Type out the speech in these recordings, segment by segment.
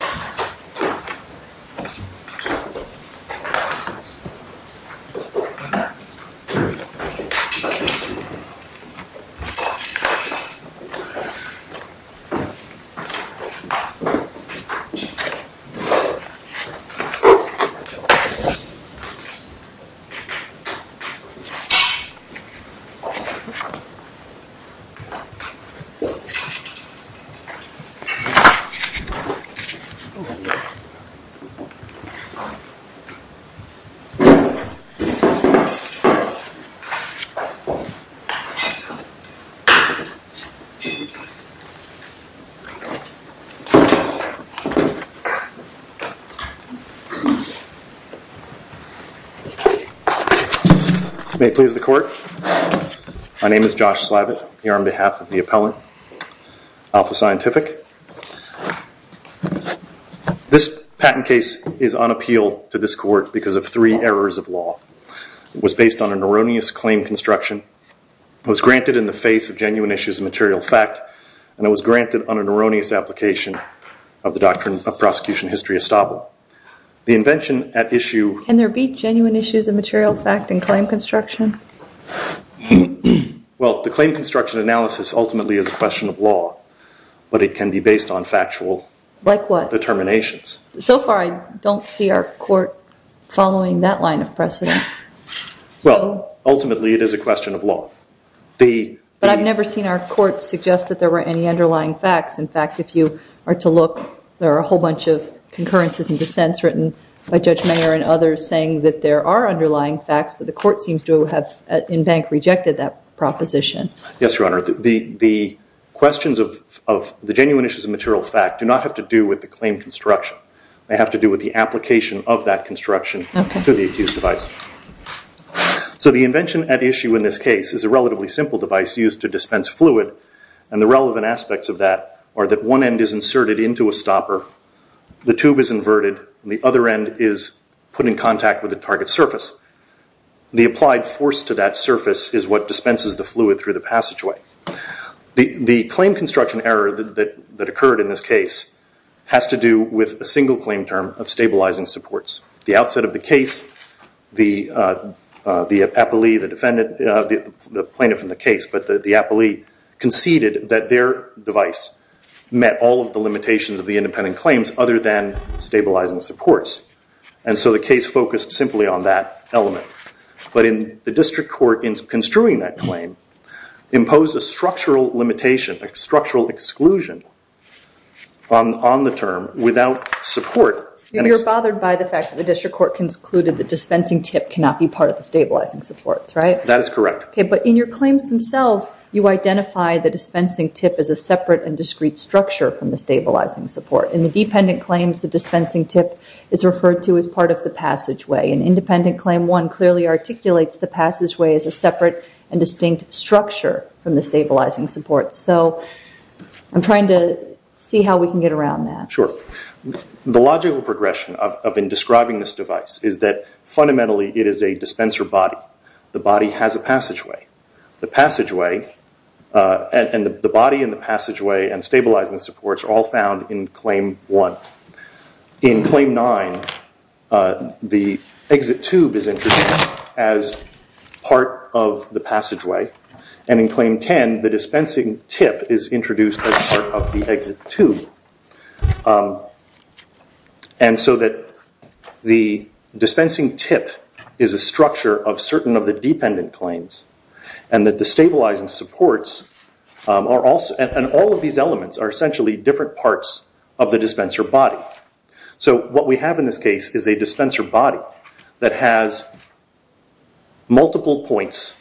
This video was made in Cooperation with the U.S. Department of State. May it please the court, my name is Josh Slavitt, here on behalf of the appellant, Alpha Scientific. This patent case is on appeal to this court because of three errors of law. It was based on an erroneous claim construction. It was granted in the face of genuine issues of material fact, and it was granted on an erroneous application of the doctrine of prosecution history estable. The invention at issue... Can there be genuine issues of material fact in claim construction? Well, the claim construction analysis ultimately is a question of law, but it can be based on factual determinations. Like what? So far I don't see our court following that line of precedent. Well, ultimately it is a question of law. But I've never seen our court suggest that there were any underlying facts. In fact, if you are to look, there are a whole bunch of concurrences and dissents written by Judge Mayer and others saying that there are underlying facts, but the court seems to have in bank rejected that proposition. Yes, Your Honor. The questions of the genuine issues of material fact do not have to do with the claim construction. They have to do with the application of that construction to the accused device. So the invention at issue in this case is a relatively simple device used to dispense fluid, and the relevant aspects of that are that one end is inserted into a stopper, the tube is inverted, and the other end is put in contact with the target surface. The applied force to that surface is what dispenses the fluid through the passageway. The claim construction error that occurred in this case has to do with a single claim term of stabilizing supports. The outset of the case, the plaintiff in the case, but the appellee conceded that their device met all of the limitations of the independent claims other than stabilizing supports. And so the case focused simply on that element. But the district court, in construing that claim, imposed a structural limitation, a structural exclusion on the term without support. You're bothered by the fact that the district court concluded the dispensing tip cannot be part of the stabilizing supports, right? That is correct. But in your claims themselves, you identify the dispensing tip as a separate and discrete structure from the stabilizing support. In the dependent claims, the dispensing tip is referred to as part of the passageway. In independent claim one, it clearly articulates the passageway as a separate and distinct structure from the stabilizing support. So I'm trying to see how we can get around that. Sure. The logical progression of describing this device is that fundamentally it is a dispenser body. The body has a passageway. The passageway and the body and the passageway and stabilizing supports are all found in claim one. In claim nine, the exit tube is introduced as part of the passageway. And in claim 10, the dispensing tip is introduced as part of the exit tube. And so that the dispensing tip is a structure of certain of the dependent claims and that the stabilizing supports are also, and all of these elements are essentially different parts of the dispenser body. So what we have in this case is a dispenser body that has multiple points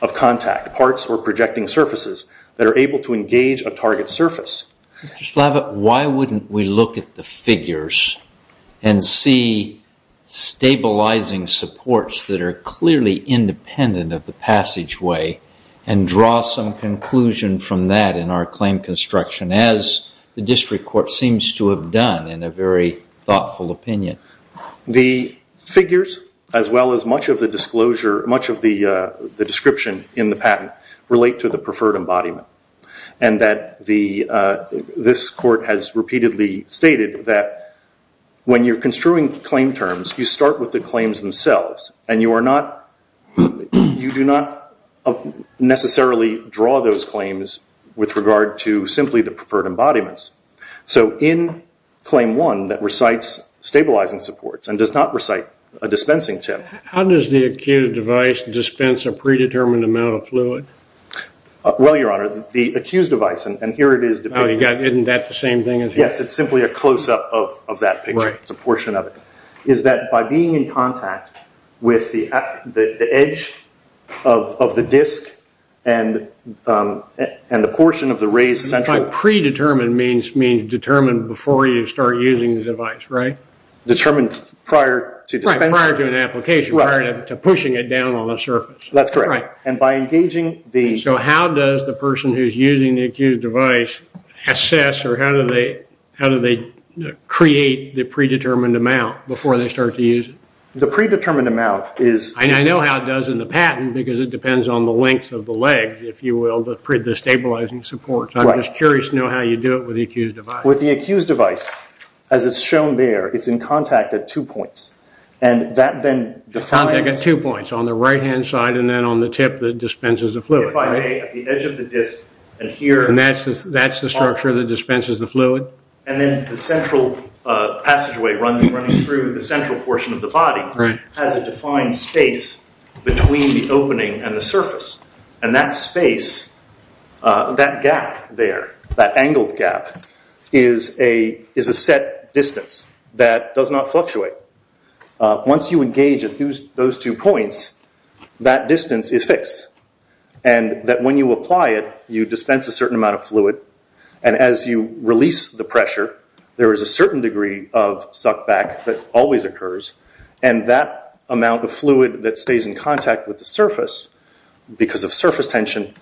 of contact, parts or projecting surfaces that are able to engage a target surface. Mr. Slavitt, why wouldn't we look at the figures and see stabilizing supports that are clearly independent of the passageway and draw some conclusion from that in our claim construction, as the district court seems to have done in a very thoughtful opinion? The figures, as well as much of the disclosure, much of the description in the patent, relate to the preferred embodiment. And that this court has repeatedly stated that when you're construing claim terms, you start with the claims themselves and you do not necessarily draw those claims with regard to simply the preferred embodiments. So in claim one, that recites stabilizing supports and does not recite a dispensing tip. How does the acute device dispense a predetermined amount of fluid? Well, Your Honor, the accused device, and here it is depicted. Isn't that the same thing as here? Yes, it's simply a close-up of that picture. It's a portion of it. Is that by being in contact with the edge of the disk and the portion of the raised central... Predetermined means determined before you start using the device, right? Determined prior to dispensing. Prior to an application, prior to pushing it down on the surface. That's correct. And by engaging the... So how does the person who's using the accused device assess or how do they create the predetermined amount before they start to use it? The predetermined amount is... I know how it does in the patent because it depends on the length of the legs, if you will, the stabilizing supports. I'm just curious to know how you do it with the accused device. With the accused device, as it's shown there, it's in contact at two points. Contact at two points, on the right-hand side and then on the tip that dispenses the fluid, right? If I lay at the edge of the disk and here... And that's the structure that dispenses the fluid? And then the central passageway running through the central portion of the body has a defined space between the opening and the surface. And that space, that gap there, that angled gap, is a set distance that does not fluctuate. Once you engage at those two points, that distance is fixed and that when you apply it, you dispense a certain amount of fluid and as you release the pressure, there is a certain degree of suck back that always occurs and that amount of fluid that stays in contact with the surface because of surface tension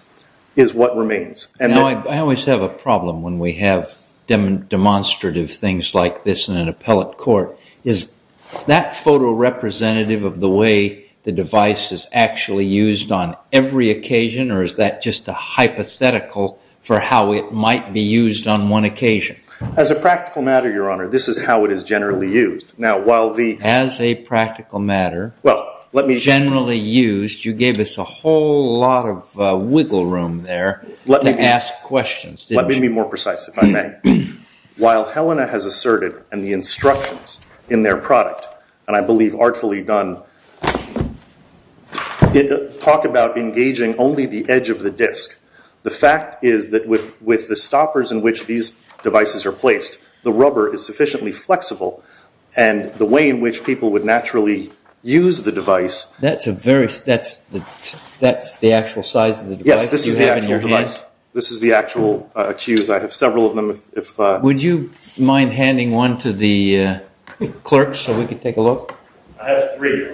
is what remains. Now, I always have a problem when we have demonstrative things like this in an appellate court. Is that photo representative of the way the device is actually used on every occasion or is that just a hypothetical for how it might be used on one occasion? As a practical matter, Your Honor, this is how it is generally used. As a practical matter, generally used, you gave us a whole lot of wiggle room there to ask questions. Let me be more precise, if I may. While Helena has asserted and the instructions in their product, and I believe artfully done, talk about engaging only the edge of the disk, the fact is that with the stoppers in which these devices are placed, the rubber is sufficiently flexible and the way in which people would naturally use the device. That's the actual size of the device that you have in your hand? Yes, this is the actual device. This is the actual cues. I have several of them. Would you mind handing one to the clerk so we could take a look? I have three.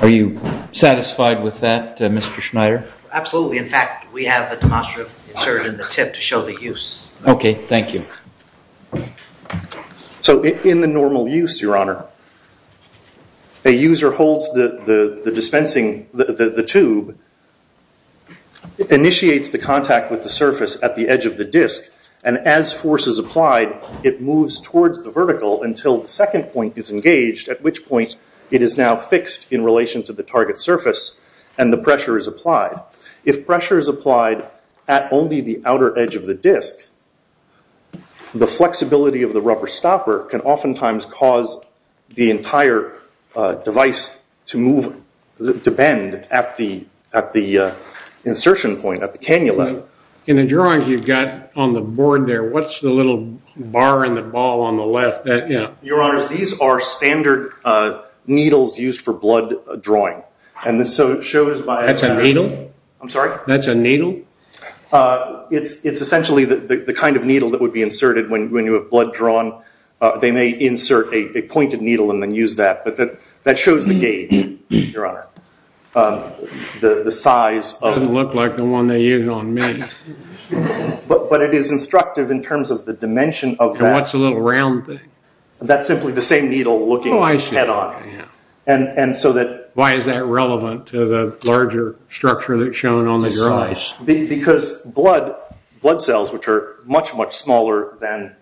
Are you satisfied with that, Mr. Schneider? Absolutely. In fact, we have a demonstrative insert in the tip to show the use. Okay, thank you. In the normal use, Your Honor, a user holds the dispensing, the tube, initiates the contact with the surface at the edge of the disk, and as force is applied, it moves towards the vertical until the second point is engaged, at which point it is now fixed in relation to the target surface and the pressure is applied. If pressure is applied at only the outer edge of the disk, the flexibility of the rubber stopper can oftentimes cause the entire device to move, to bend at the insertion point, at the cannula. In the drawings you've got on the board there, what's the little bar and the ball on the left? Your Honor, these are standard needles used for blood drawing. That's a needle? I'm sorry? That's a needle? It's essentially the kind of needle that would be inserted when you have blood drawn. They may insert a pointed needle and then use that. But that shows the gauge, Your Honor, the size. It doesn't look like the one they use on me. But it is instructive in terms of the dimension of that. What's the little round thing? That's simply the same needle looking head on. Why is that relevant to the larger structure that's shown on the drawings? Because blood cells, which are much, much smaller than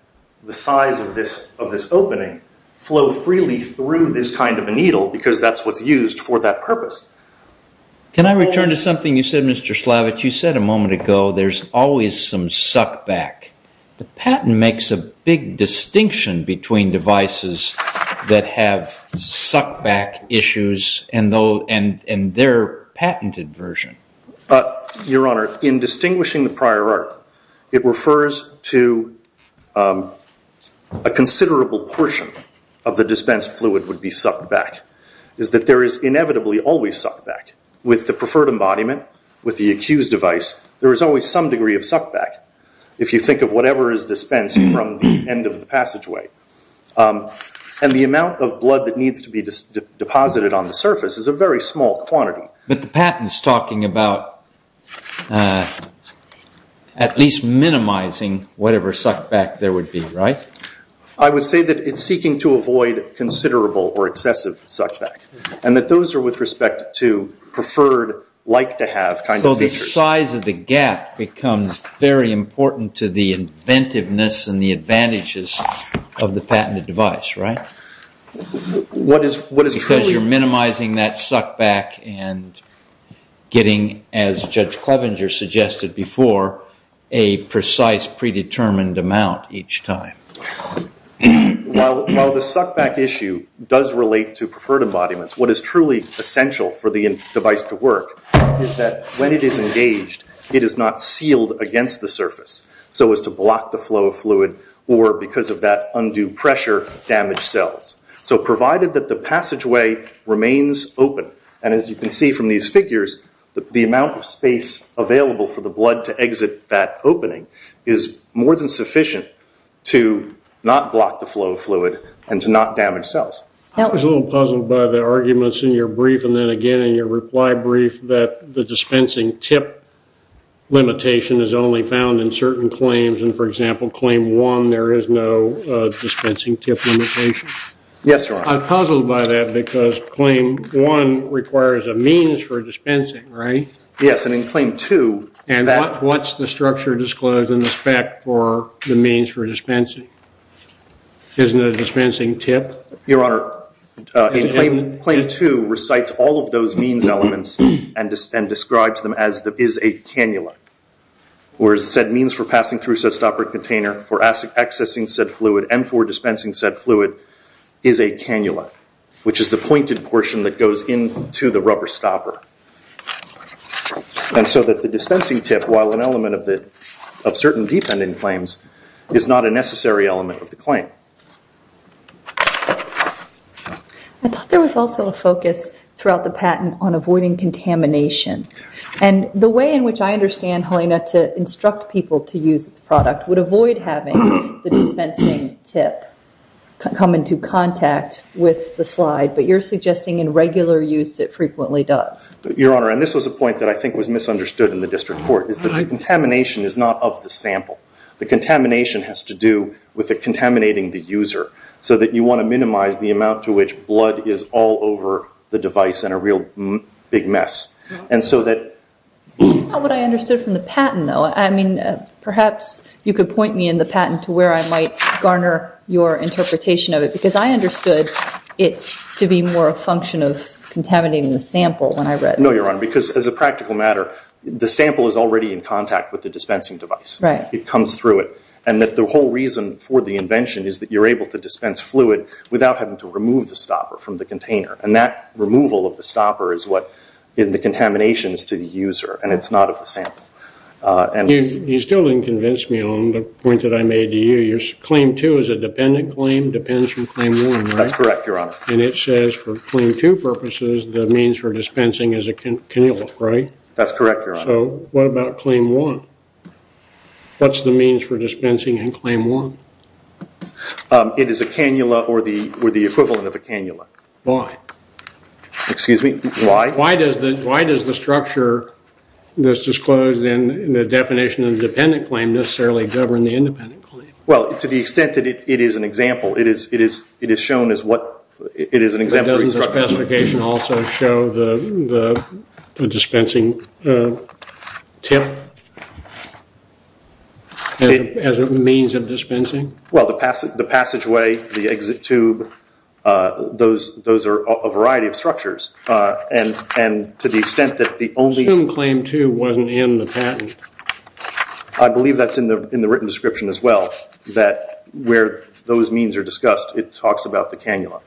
the size of this opening, flow freely through this kind of a needle because that's what's used for that purpose. Can I return to something you said, Mr. Slavich? You said a moment ago there's always some suckback. The patent makes a big distinction between devices that have suckback issues and their patented version. Your Honor, in distinguishing the prior art, it refers to a considerable portion of the dispensed fluid would be suckback, is that there is inevitably always suckback. With the preferred embodiment, with the accused device, there is always some degree of suckback. If you think of whatever is dispensed from the end of the passageway. And the amount of blood that needs to be deposited on the surface is a very small quantity. But the patent is talking about at least minimizing whatever suckback there would be, right? I would say that it's seeking to avoid considerable or excessive suckback and that those are with respect to preferred, like to have kind of features. The size of the gap becomes very important to the inventiveness and the advantages of the patented device, right? Because you're minimizing that suckback and getting, as Judge Clevenger suggested before, a precise predetermined amount each time. While the suckback issue does relate to preferred embodiments, what is truly essential for the device to work is that when it is engaged, it is not sealed against the surface so as to block the flow of fluid or because of that undue pressure, damage cells. So provided that the passageway remains open, and as you can see from these figures, the amount of space available for the blood to exit that opening is more than sufficient to not block the flow of fluid and to not damage cells. I was a little puzzled by the arguments in your brief and then again in your reply brief that the dispensing tip limitation is only found in certain claims and, for example, Claim 1, there is no dispensing tip limitation. Yes, Your Honor. I'm puzzled by that because Claim 1 requires a means for dispensing, right? Yes, and in Claim 2 that- And what's the structure disclosed in the spec for the means for dispensing? Isn't it a dispensing tip? Your Honor, Claim 2 recites all of those means elements and describes them as is a cannula, whereas said means for passing through said stopper container, for accessing said fluid, and for dispensing said fluid is a cannula, which is the pointed portion that goes into the rubber stopper. And so that the dispensing tip, while an element of certain dependent claims, is not a necessary element of the claim. I thought there was also a focus throughout the patent on avoiding contamination and the way in which I understand, Helena, to instruct people to use its product would avoid having the dispensing tip come into contact with the slide, but you're suggesting in regular use it frequently does. Your Honor, and this was a point that I think was misunderstood in the district court, is that the contamination is not of the sample. The contamination has to do with it contaminating the user so that you want to minimize the amount to which blood is all over the device and a real big mess. That's not what I understood from the patent, though. Perhaps you could point me in the patent to where I might garner your interpretation of it because I understood it to be more a function of contaminating the sample when I read it. No, Your Honor, because as a practical matter, the sample is already in contact with the dispensing device. It comes through it. And that the whole reason for the invention is that you're able to dispense fluid without having to remove the stopper from the container, and that removal of the stopper is what the contamination is to the user, and it's not of the sample. You still didn't convince me on the point that I made to you. Claim 2 is a dependent claim, depends from Claim 1, right? That's correct, Your Honor. And it says for Claim 2 purposes the means for dispensing is a cannula, right? That's correct, Your Honor. So what about Claim 1? What's the means for dispensing in Claim 1? It is a cannula or the equivalent of a cannula. Why? Excuse me? Why? Why does the structure that's disclosed in the definition of the dependent claim necessarily govern the independent claim? Well, to the extent that it is an example, it is shown as what it is an example. Doesn't the specification also show the dispensing tip as a means of dispensing? Well, the passageway, the exit tube, those are a variety of structures, and to the extent that the only- Assume Claim 2 wasn't in the patent. I believe that's in the written description as well, that where those means are discussed, it talks about the cannula.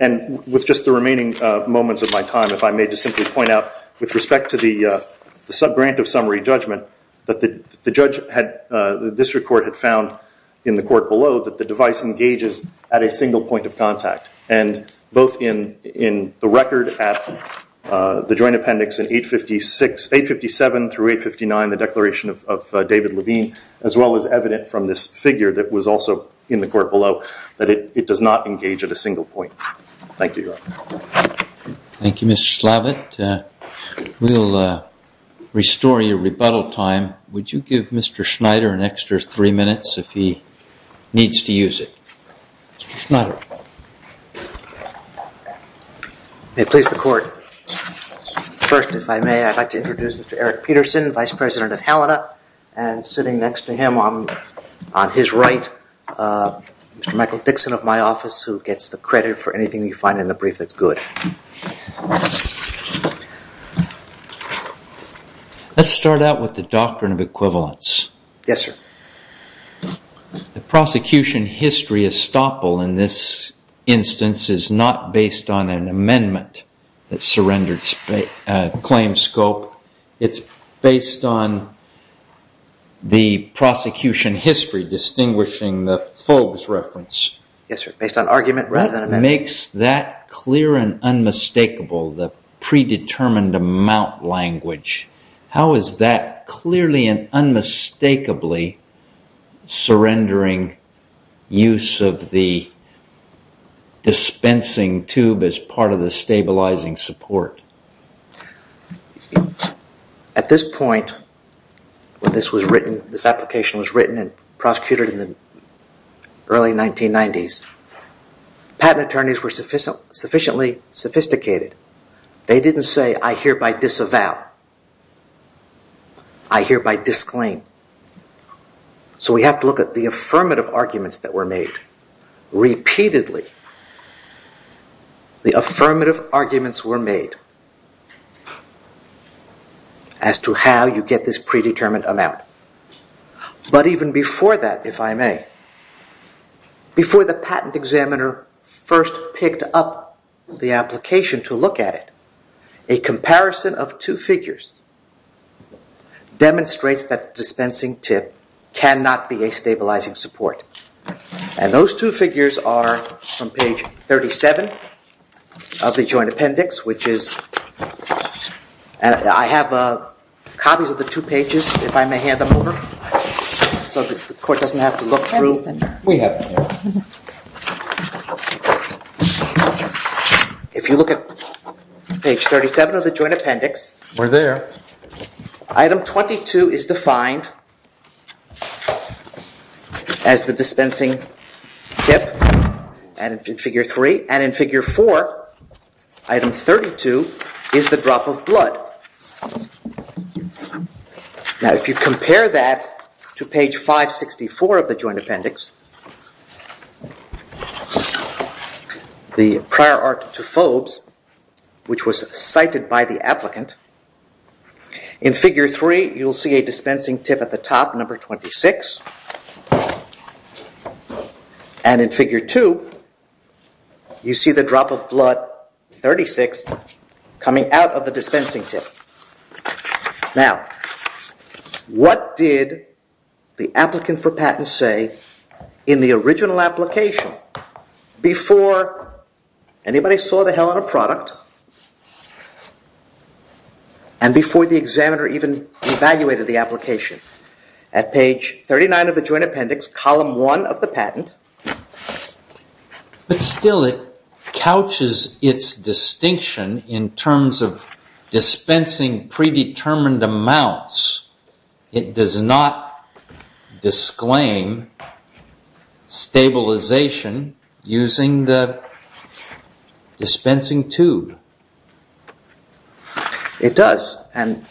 And with just the remaining moments of my time, if I may just simply point out, with respect to the subgrant of summary judgment, the district court had found in the court below that the device engages at a single point of contact, and both in the record at the joint appendix in 857 through 859, the declaration of David Levine, as well as evident from this figure that was also in the court below, that it does not engage at a single point. Thank you, Your Honor. Thank you, Mr. Slavitt. We'll restore your rebuttal time. Would you give Mr. Schneider an extra three minutes if he needs to use it? Mr. Schneider. May it please the court, first, if I may, I'd like to introduce Mr. Eric Peterson, Vice President of Halida, and sitting next to him on his right, Mr. Michael Dixon of my office, who gets the credit for anything you find in the brief that's good. Let's start out with the doctrine of equivalence. Yes, sir. The prosecution history estoppel in this instance is not based on an amendment that surrenders claim scope. It's based on the prosecution history distinguishing the Fulg's reference. Yes, sir, based on argument rather than amendment. What makes that clear and unmistakable, the predetermined amount language? How is that clearly and unmistakably surrendering use of the dispensing tube as part of the stabilizing support? At this point, when this application was written and prosecuted in the early 1990s, patent attorneys were sufficiently sophisticated. They didn't say, I hereby disavow. I hereby disclaim. So we have to look at the affirmative arguments that were made. Repeatedly, the affirmative arguments were made as to how you get this predetermined amount. But even before that, if I may, before the patent examiner first picked up the application to look at it, a comparison of two figures demonstrates that dispensing tip cannot be a stabilizing support. And those two figures are from page 37 of the joint appendix, which is, and I have copies of the two pages, if I may hand them over, so the court doesn't have to look through. We have them here. If you look at page 37 of the joint appendix. We're there. Item 22 is defined as the dispensing tip in figure 3. And in figure 4, item 32 is the drop of blood. Now, if you compare that to page 564 of the joint appendix, the prior art to Fobes, which was cited by the applicant, in figure 3, you'll see a dispensing tip at the top, number 26. And in figure 2, you see the drop of blood, 36, coming out of the dispensing tip. Now, what did the applicant for patent say in the original application before anybody saw the hell out of the product and before the examiner even evaluated the application? At page 39 of the joint appendix, column 1 of the patent. But still, it couches its distinction in terms of dispensing predetermined amounts. It does not disclaim stabilization using the dispensing tube. It does.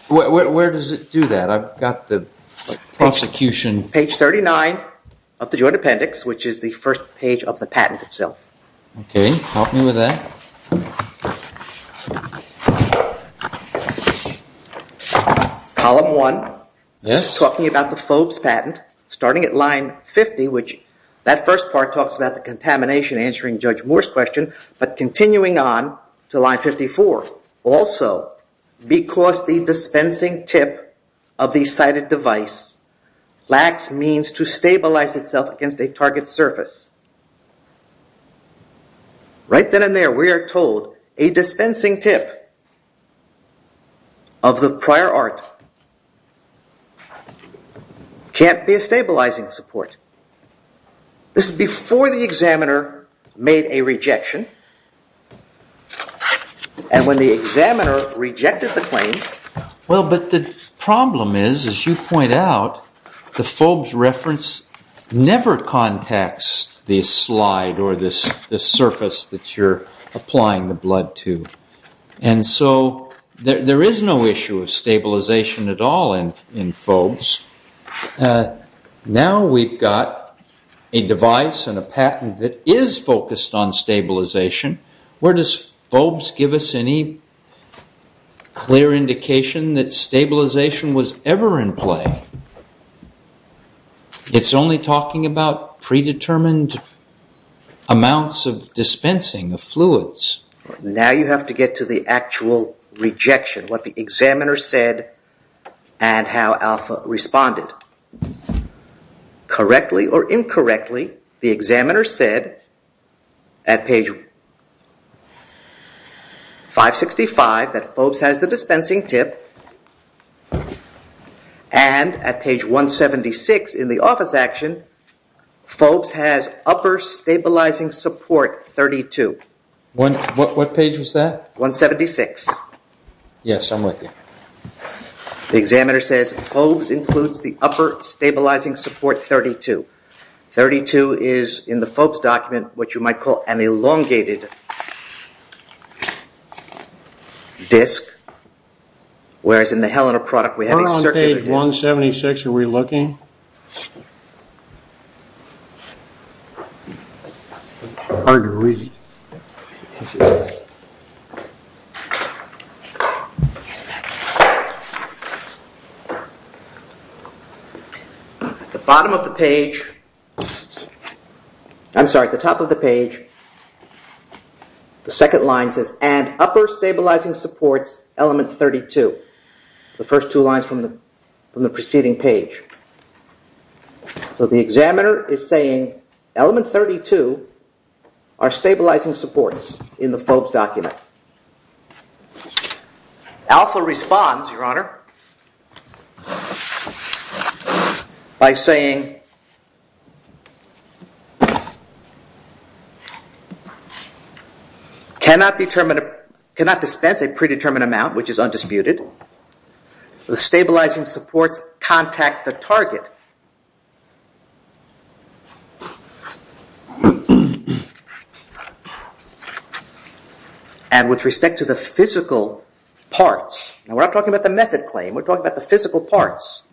Where does it do that? I've got the prosecution. Page 39 of the joint appendix, which is the first page of the patent itself. Okay, help me with that. Column 1, talking about the Fobes patent, starting at line 50, which that first part talks about the contamination, answering Judge Moore's question, but continuing on to line 54. Also, because the dispensing tip of the sighted device lacks means to stabilize itself against a target surface. Right then and there, we are told a dispensing tip of the prior art can't be a stabilizing support. This is before the examiner made a rejection. And when the examiner rejected the claims... Well, but the problem is, as you point out, the Fobes reference never contacts the slide or the surface that you're applying the blood to. And so there is no issue of stabilization at all in Fobes. Now we've got a device and a patent that is focused on stabilization. Where does Fobes give us any clear indication that stabilization was ever in play? It's only talking about predetermined amounts of dispensing of fluids. Now you have to get to the actual rejection, what the examiner said and how Alpha responded. Correctly or incorrectly, the examiner said at page 565 that Fobes has the dispensing tip. And at page 176 in the office action, Fobes has upper stabilizing support 32. What page was that? 176. Yes, I'm with you. The examiner says Fobes includes the upper stabilizing support 32. 32 is, in the Fobes document, what you might call an elongated disc. Whereas in the Helena product we have a circular disc. We're on page 176. Are we looking? Hard to read. At the bottom of the page, I'm sorry, at the top of the page, the second line says and upper stabilizing supports element 32. The first two lines from the preceding page. So the examiner is saying element 32 are stabilizing supports in the Fobes document. Alpha responds, Your Honor, by saying cannot dispense a predetermined amount, which is undisputed. The stabilizing supports contact the target. And with respect to the physical parts. We're not talking about the method claim. We're talking about the physical parts.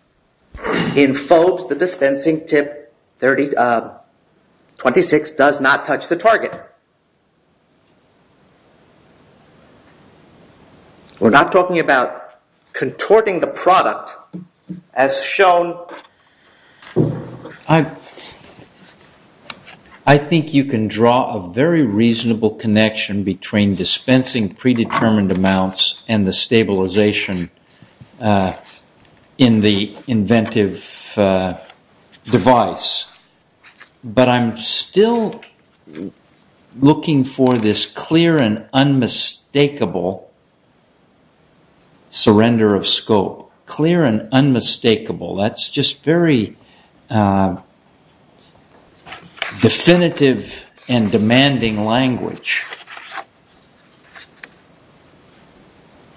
In Fobes, the dispensing tip 26 does not touch the target. We're not talking about contorting the product as shown. I think you can draw a very reasonable connection between dispensing predetermined amounts and the stabilization in the inventive device. But I'm still looking for this clear and unmistakable surrender of scope. Clear and unmistakable. That's just very definitive and demanding language.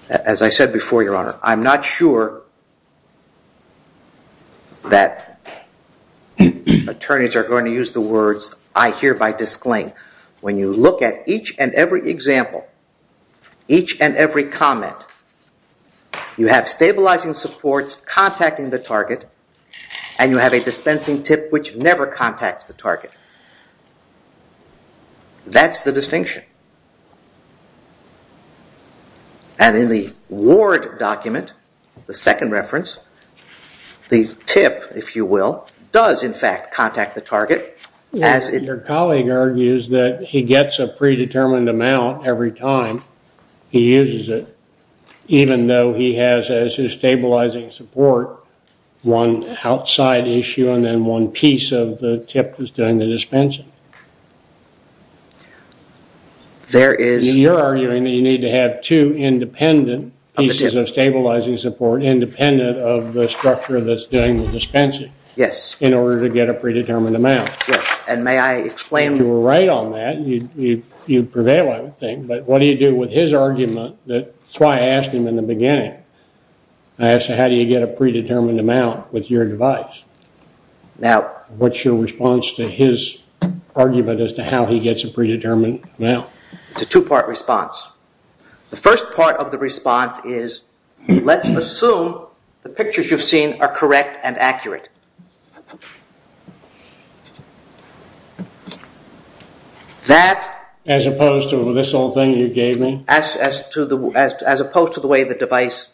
As I said before, Your Honor, I'm not sure that attorneys are going to use the words I hear by disclaim. When you look at each and every example, each and every comment, you have stabilizing supports contacting the target and you have a dispensing tip which never contacts the target. That's the distinction. And in the Ward document, the second reference, the tip, if you will, does in fact contact the target. Your colleague argues that he gets a predetermined amount every time he uses it. Even though he has as his stabilizing support one outside issue and then one piece of the tip that's doing the dispensing. You're arguing that you need to have two independent pieces of stabilizing support independent of the structure that's doing the dispensing in order to get a predetermined amount. You were right on that. You prevail, I would think. But what do you do with his argument? That's why I asked him in the beginning. I asked him how do you get a predetermined amount with your device? Now, what's your response to his argument as to how he gets a predetermined amount? It's a two-part response. The first part of the response is let's assume the pictures you've seen are correct and accurate. As opposed to this old thing you gave me? As opposed to the way the device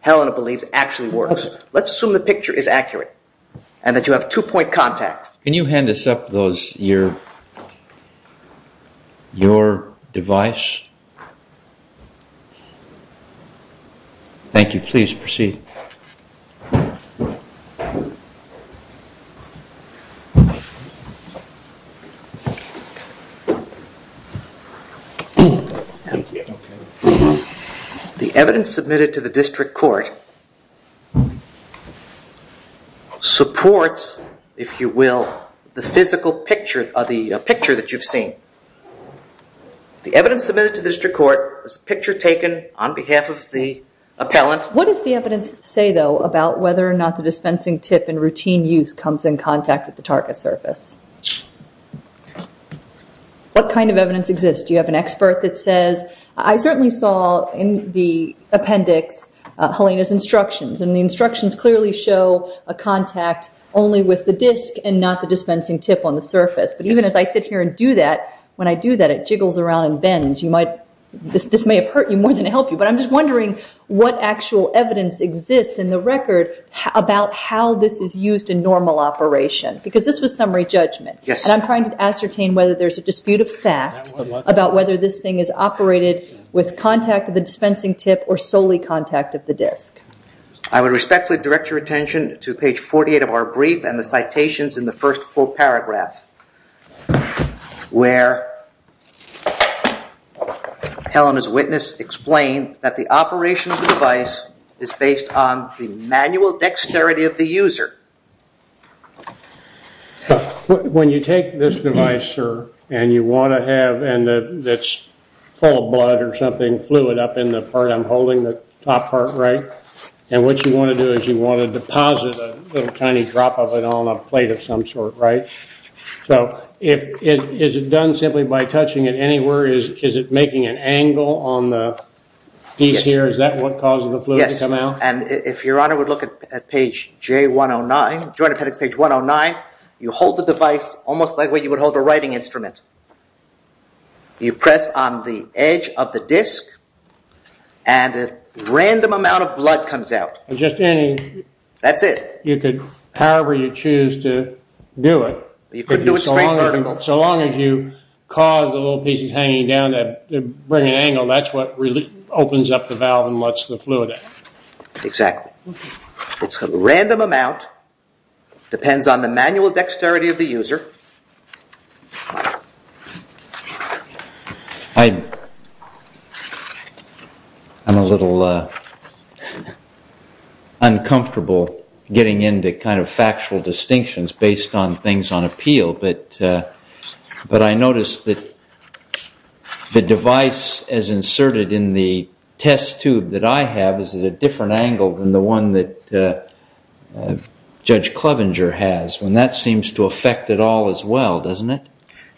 Helena believes actually works. Let's assume the picture is accurate and that you have two-point contact. Can you hand us up your device? Thank you. Please proceed. The evidence submitted to the district court supports, if you will, the physical picture that you've seen. The evidence submitted to the district court is a picture taken on behalf of the appellant. What does the evidence say, though, about whether or not the dispensing tip in routine use comes in contact with the target surface? What kind of evidence exists? Do you have an expert that says? I certainly saw in the appendix Helena's instructions. The instructions clearly show a contact only with the disk and not the dispensing tip on the surface. But even as I sit here and do that, when I do that, it jiggles around and bends. This may have hurt you more than help you. But I'm just wondering what actual evidence exists in the record about how this is used in normal operation. Because this was summary judgment. And I'm trying to ascertain whether there's a dispute of fact about whether this thing is operated with contact of the dispensing tip or solely contact of the disk. I would respectfully direct your attention to page 48 of our brief and the citations in the first full paragraph where Helena's witness explained that the operation of the device is based on the manual dexterity of the user. When you take this device, sir, and you want to have, and it's full of blood or something, fluid up in the part I'm holding, the top part, right? And what you want to do is you want to deposit a little tiny drop of it on a plate of some sort, right? So is it done simply by touching it anywhere? Is it making an angle on the piece here? Is that what causes the fluid to come out? And if Your Honor would look at page J109, Joint Appendix page 109, you hold the device almost like the way you would hold a writing instrument. You press on the edge of the disk and a random amount of blood comes out. That's it. However you choose to do it, so long as you cause the little pieces hanging down to bring an angle, that's what really opens up the valve and lets the fluid out. Exactly. It's a random amount, depends on the manual dexterity of the user. I'm a little uncomfortable getting into kind of factual distinctions based on things on appeal, but I notice that the device as inserted in the test tube that I have is at a different angle than the one that Judge Clevenger has, and that seems to affect it all as well, doesn't it?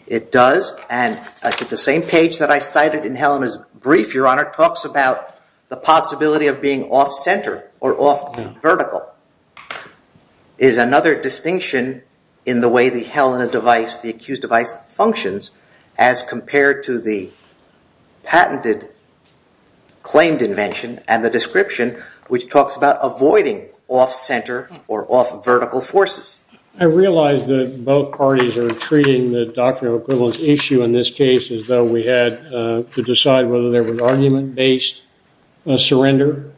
It does, and the same page that I cited in Helen's brief, Your Honor, talks about the possibility of being off-center or off-vertical. What is another distinction in the way the Helena device, the accused device, functions as compared to the patented claimed invention and the description, which talks about avoiding off-center or off-vertical forces? I realize that both parties are treating the doctrine of equivalence issue in this case as though we had to decide whether there was argument-based surrender,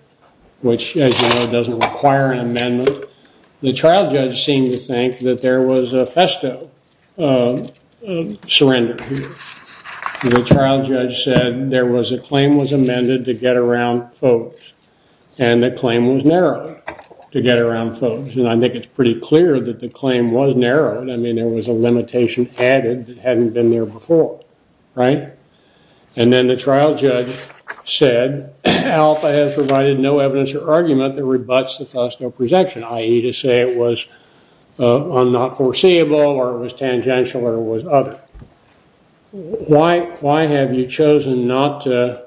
which, as you know, doesn't require an amendment. The trial judge seemed to think that there was a festo surrender. The trial judge said there was a claim was amended to get around folks, and the claim was narrowed to get around folks, and I think it's pretty clear that the claim was narrowed. I mean, there was a limitation added that hadn't been there before, right? And then the trial judge said, Alpha has provided no evidence or argument that rebuts the festo presumption, i.e. to say it was not foreseeable or it was tangential or it was other. Why have you chosen not to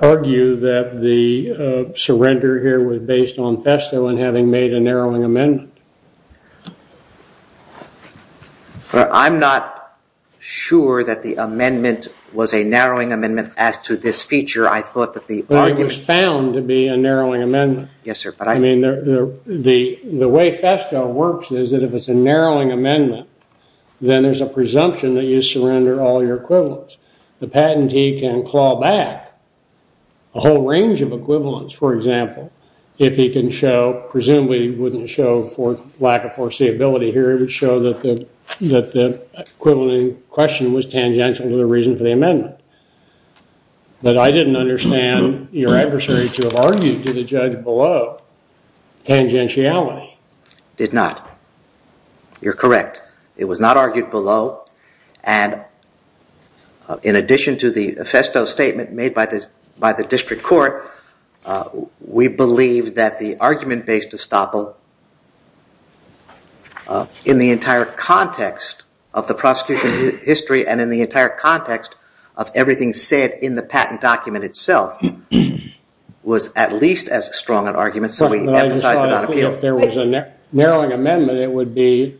argue that the surrender here was based on festo and having made a narrowing amendment? I'm not sure that the amendment was a narrowing amendment as to this feature. I thought that the argument was found to be a narrowing amendment. Yes, sir. I mean, the way festo works is that if it's a narrowing amendment, then there's a presumption that you surrender all your equivalence. The patentee can claw back a whole range of equivalence, for example, if he can show, presumably he wouldn't show for lack of foreseeability here, he would show that the equivalent in question was tangential to the reason for the amendment. But I didn't understand your adversary to have argued to the judge below tangentiality. Did not. You're correct. It was not argued below, and in addition to the festo statement made by the district court, we believe that the argument based estoppel in the entire context of the prosecution history and in the entire context of everything said in the patent document itself was at least as strong an argument, so we emphasize that on appeal. If there was a narrowing amendment,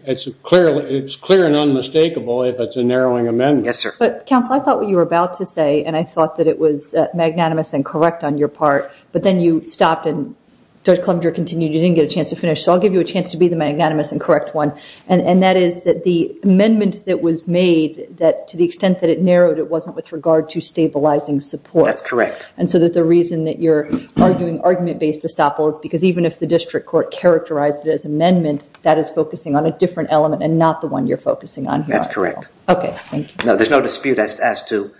it's clear and unmistakable if it's a narrowing amendment. Yes, sir. But, counsel, I thought what you were about to say, and I thought that it was magnanimous and correct on your part, but then you stopped and Judge Klumger continued, you didn't get a chance to finish, so I'll give you a chance to be the magnanimous and correct one, and that is that the amendment that was made, that to the extent that it narrowed, it wasn't with regard to stabilizing support. That's correct. And so that the reason that you're arguing argument based estoppel is because even if the district court characterized it as amendment, that is focusing on a different element and not the one you're focusing on here. That's correct. Okay, thank you. There's no dispute as to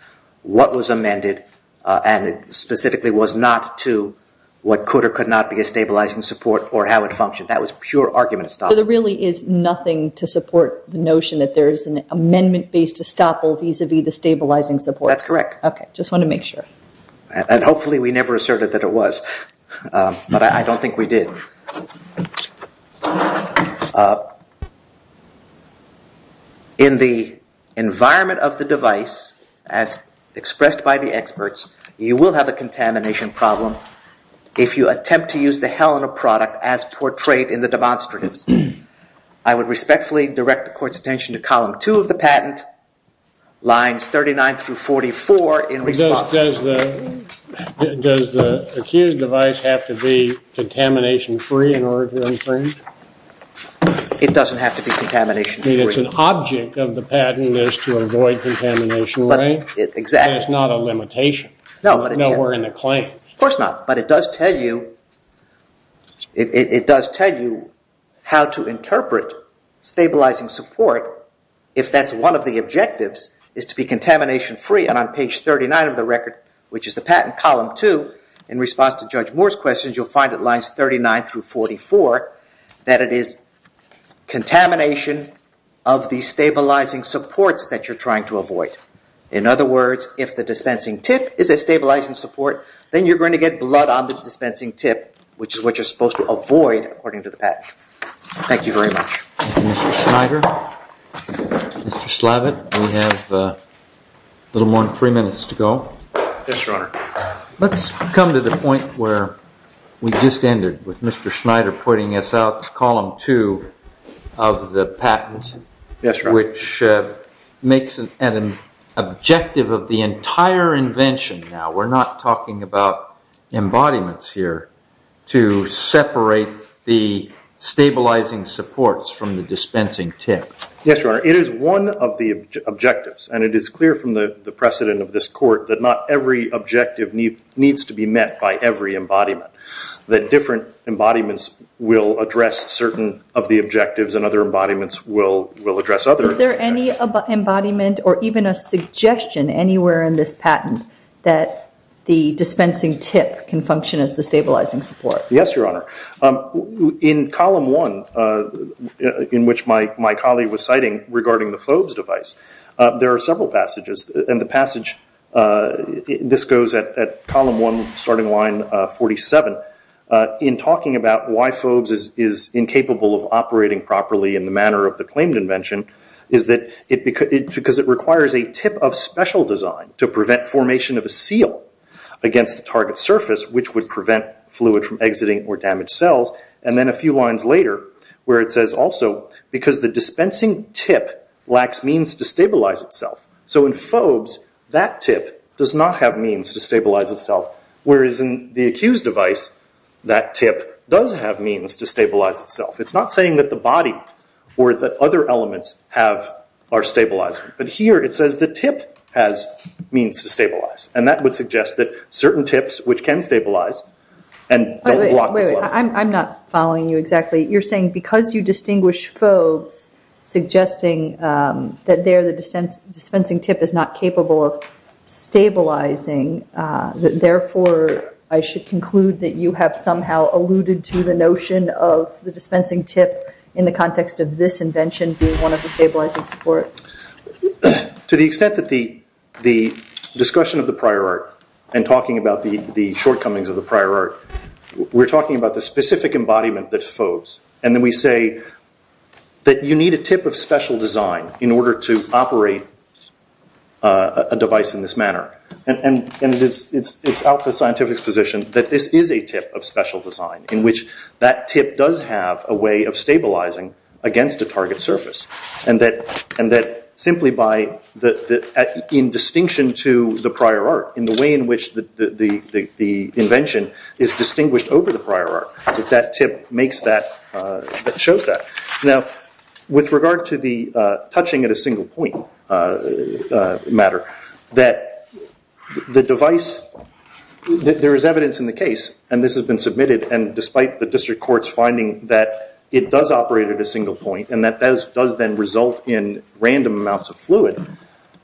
what was amended, and it specifically was not to what could or could not be a stabilizing support or how it functioned. That was pure argument estoppel. So there really is nothing to support the notion that there is an amendment based estoppel vis-a-vis the stabilizing support. That's correct. Okay, just wanted to make sure. And hopefully we never asserted that it was, but I don't think we did. In the environment of the device, as expressed by the experts, you will have a contamination problem if you attempt to use the Helena product as portrayed in the demonstratives. I would respectfully direct the court's attention to column two of the patent, lines 39 through 44 in response. Does the accused device have to be contamination free in order to imprint? It doesn't have to be contamination free. It's an object of the patent is to avoid contamination, right? Exactly. It's not a limitation. Nowhere in the claim. Of course not, but it does tell you how to interpret stabilizing support if that's one of the objectives is to be contamination free. And on page 39 of the record, which is the patent column two, in response to Judge Moore's questions, you'll find it lines 39 through 44 that it is contamination of the stabilizing supports that you're trying to avoid. In other words, if the dispensing tip is a stabilizing support, then you're going to get blood on the dispensing tip, which is what you're supposed to avoid according to the patent. Thank you very much. Thank you, Mr. Schneider. Mr. Slavitt, we have a little more than three minutes to go. Yes, Your Honor. Let's come to the point where we just ended with Mr. Schneider pointing us out to column two of the patent, which makes it an objective of the entire invention. Now, we're not talking about embodiments here to separate the stabilizing supports from the dispensing tip. Yes, Your Honor. It is one of the objectives, and it is clear from the precedent of this court that not every objective needs to be met by every embodiment, that different embodiments will address certain of the objectives and other embodiments will address other objectives. Is there any embodiment or even a suggestion anywhere in this patent that the dispensing tip can function as the stabilizing support? Yes, Your Honor. In column one, in which my colleague was citing regarding the Phobes device, there are several passages, and the passage, this goes at column one, starting line 47, in talking about why Phobes is incapable of operating properly in the manner of the claimed invention, is that because it requires a tip of special design to prevent formation of a seal against the target surface, which would prevent fluid from exiting or damage cells, and then a few lines later, where it says also, because the dispensing tip lacks means to stabilize itself. So in Phobes, that tip does not have means to stabilize itself, whereas in the accused device, that tip does have means to stabilize itself. It's not saying that the body or the other elements are stabilized, but here it says the tip has means to stabilize, and that would suggest that certain tips which can stabilize and don't block the flow. I'm not following you exactly. You're saying because you distinguish Phobes, suggesting that there the dispensing tip is not capable of stabilizing, therefore I should conclude that you have somehow alluded to the notion of the dispensing tip in the context of this invention being one of the stabilizing supports. To the extent that the discussion of the prior art and talking about the shortcomings of the prior art, we're talking about the specific embodiment that's Phobes, and then we say that you need a tip of special design in order to operate a device in this manner, and it's out of the scientific position that this is a tip of special design in which that tip does have a way of stabilizing against a target surface, and that simply in distinction to the prior art, in the way in which the invention is distinguished over the prior art, that tip makes that, shows that. Now, with regard to the touching at a single point matter, that the device, there is evidence in the case, and this has been submitted, and despite the district court's finding that it does operate at a single point, and that does then result in random amounts of fluid,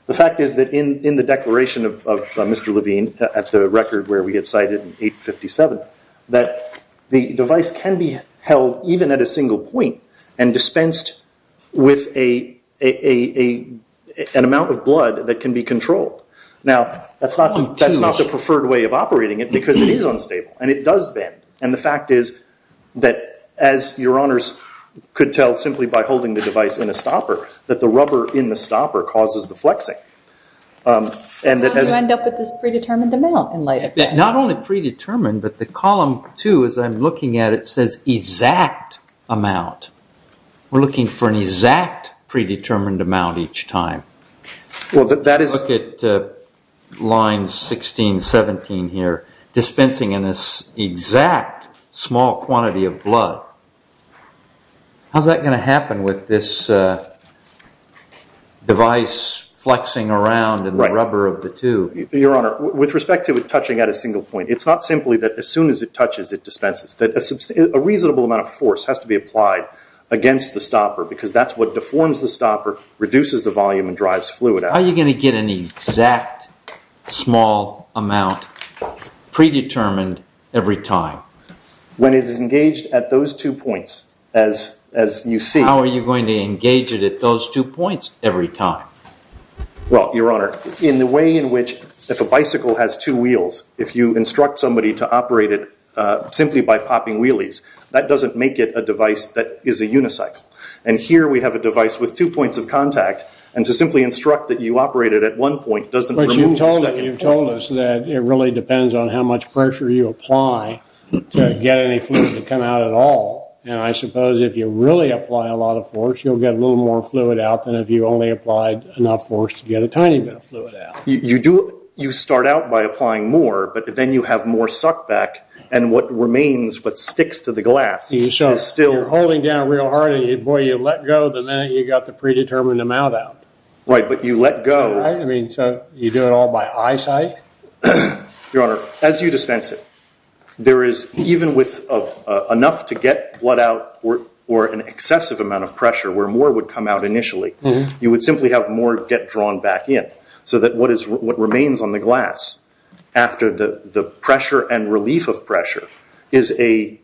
the fact is that in the declaration of Mr. Levine, at the record where we get cited in 857, that the device can be held even at a single point and dispensed with an amount of blood that can be controlled. Now, that's not the preferred way of operating it, because it is unstable, and it does bend, and the fact is that, as your honors could tell simply by holding the device in a stopper, that the rubber in the stopper causes the flexing. You end up with this predetermined amount in light of that. Not only predetermined, but the column two, as I'm looking at it, says exact amount. We're looking for an exact predetermined amount each time. Look at lines 16, 17 here, dispensing in this exact small quantity of blood. How's that going to happen with this device flexing around in the rubber of the tube? Your honor, with respect to it touching at a single point, it's not simply that as soon as it touches, it dispenses. A reasonable amount of force has to be applied against the stopper, because that's what deforms the stopper, reduces the volume, and drives fluid out. How are you going to get an exact small amount predetermined every time? When it is engaged at those two points, as you see. How are you going to engage it at those two points every time? Well, your honor, in the way in which if a bicycle has two wheels, if you instruct somebody to operate it simply by popping wheelies, that doesn't make it a device that is a unicycle. And here we have a device with two points of contact, and to simply instruct that you operate it at one point doesn't remove the second point. But you've told us that it really depends on how much pressure you apply to get any fluid to come out at all. And I suppose if you really apply a lot of force, you'll get a little more fluid out than if you only applied enough force to get a tiny bit of fluid out. You start out by applying more, but then you have more suckback, and what remains, what sticks to the glass is still... You're holding down real hard, and, boy, you let go the minute you got the predetermined amount out. Right, but you let go... Right, I mean, so you do it all by eyesight? Your honor, as you dispense it, there is, even with enough to get blood out or an excessive amount of pressure where more would come out initially, you would simply have more get drawn back in, so that what remains on the glass after the pressure and relief of pressure is a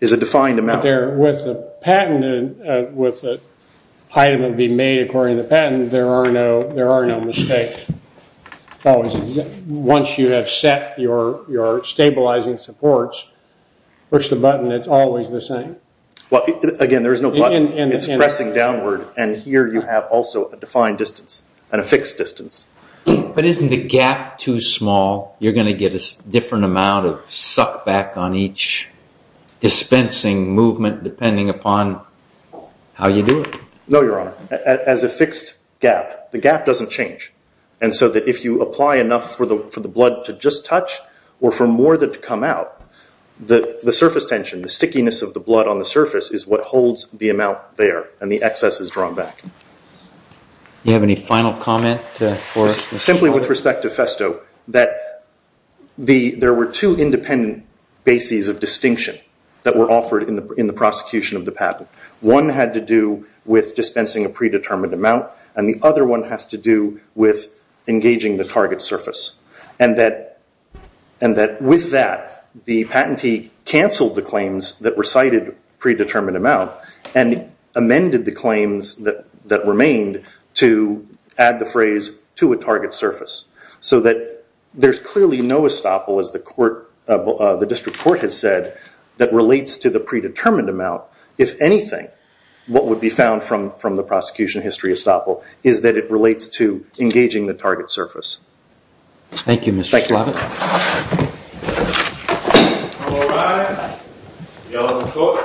defined amount. With the patent, with the item that would be made according to the patent, there are no mistakes. Once you have set your stabilizing supports, push the button, it's always the same. Well, again, there is no button. It's pressing downward, and here you have also a defined distance and a fixed distance. But isn't the gap too small? You're going to get a different amount of suck back on each dispensing movement depending upon how you do it. No, your honor. As a fixed gap, the gap doesn't change, and so that if you apply enough for the blood to just touch or for more to come out, the surface tension, the stickiness of the blood on the surface, is what holds the amount there, and the excess is drawn back. Do you have any final comment? Simply with respect to Festo, that there were two independent bases of distinction that were offered in the prosecution of the patent. One had to do with dispensing a predetermined amount, and the other one has to do with engaging the target surface, and that with that, the patentee canceled the claims that recited predetermined amount and amended the claims that remained to add the phrase to a target surface so that there's clearly no estoppel, as the district court has said, that relates to the predetermined amount. If anything, what would be found from the prosecution history estoppel is that it relates to engaging the target surface. Thank you, Mr. Slovitt. All rise. You all may go, and preserve a safe day.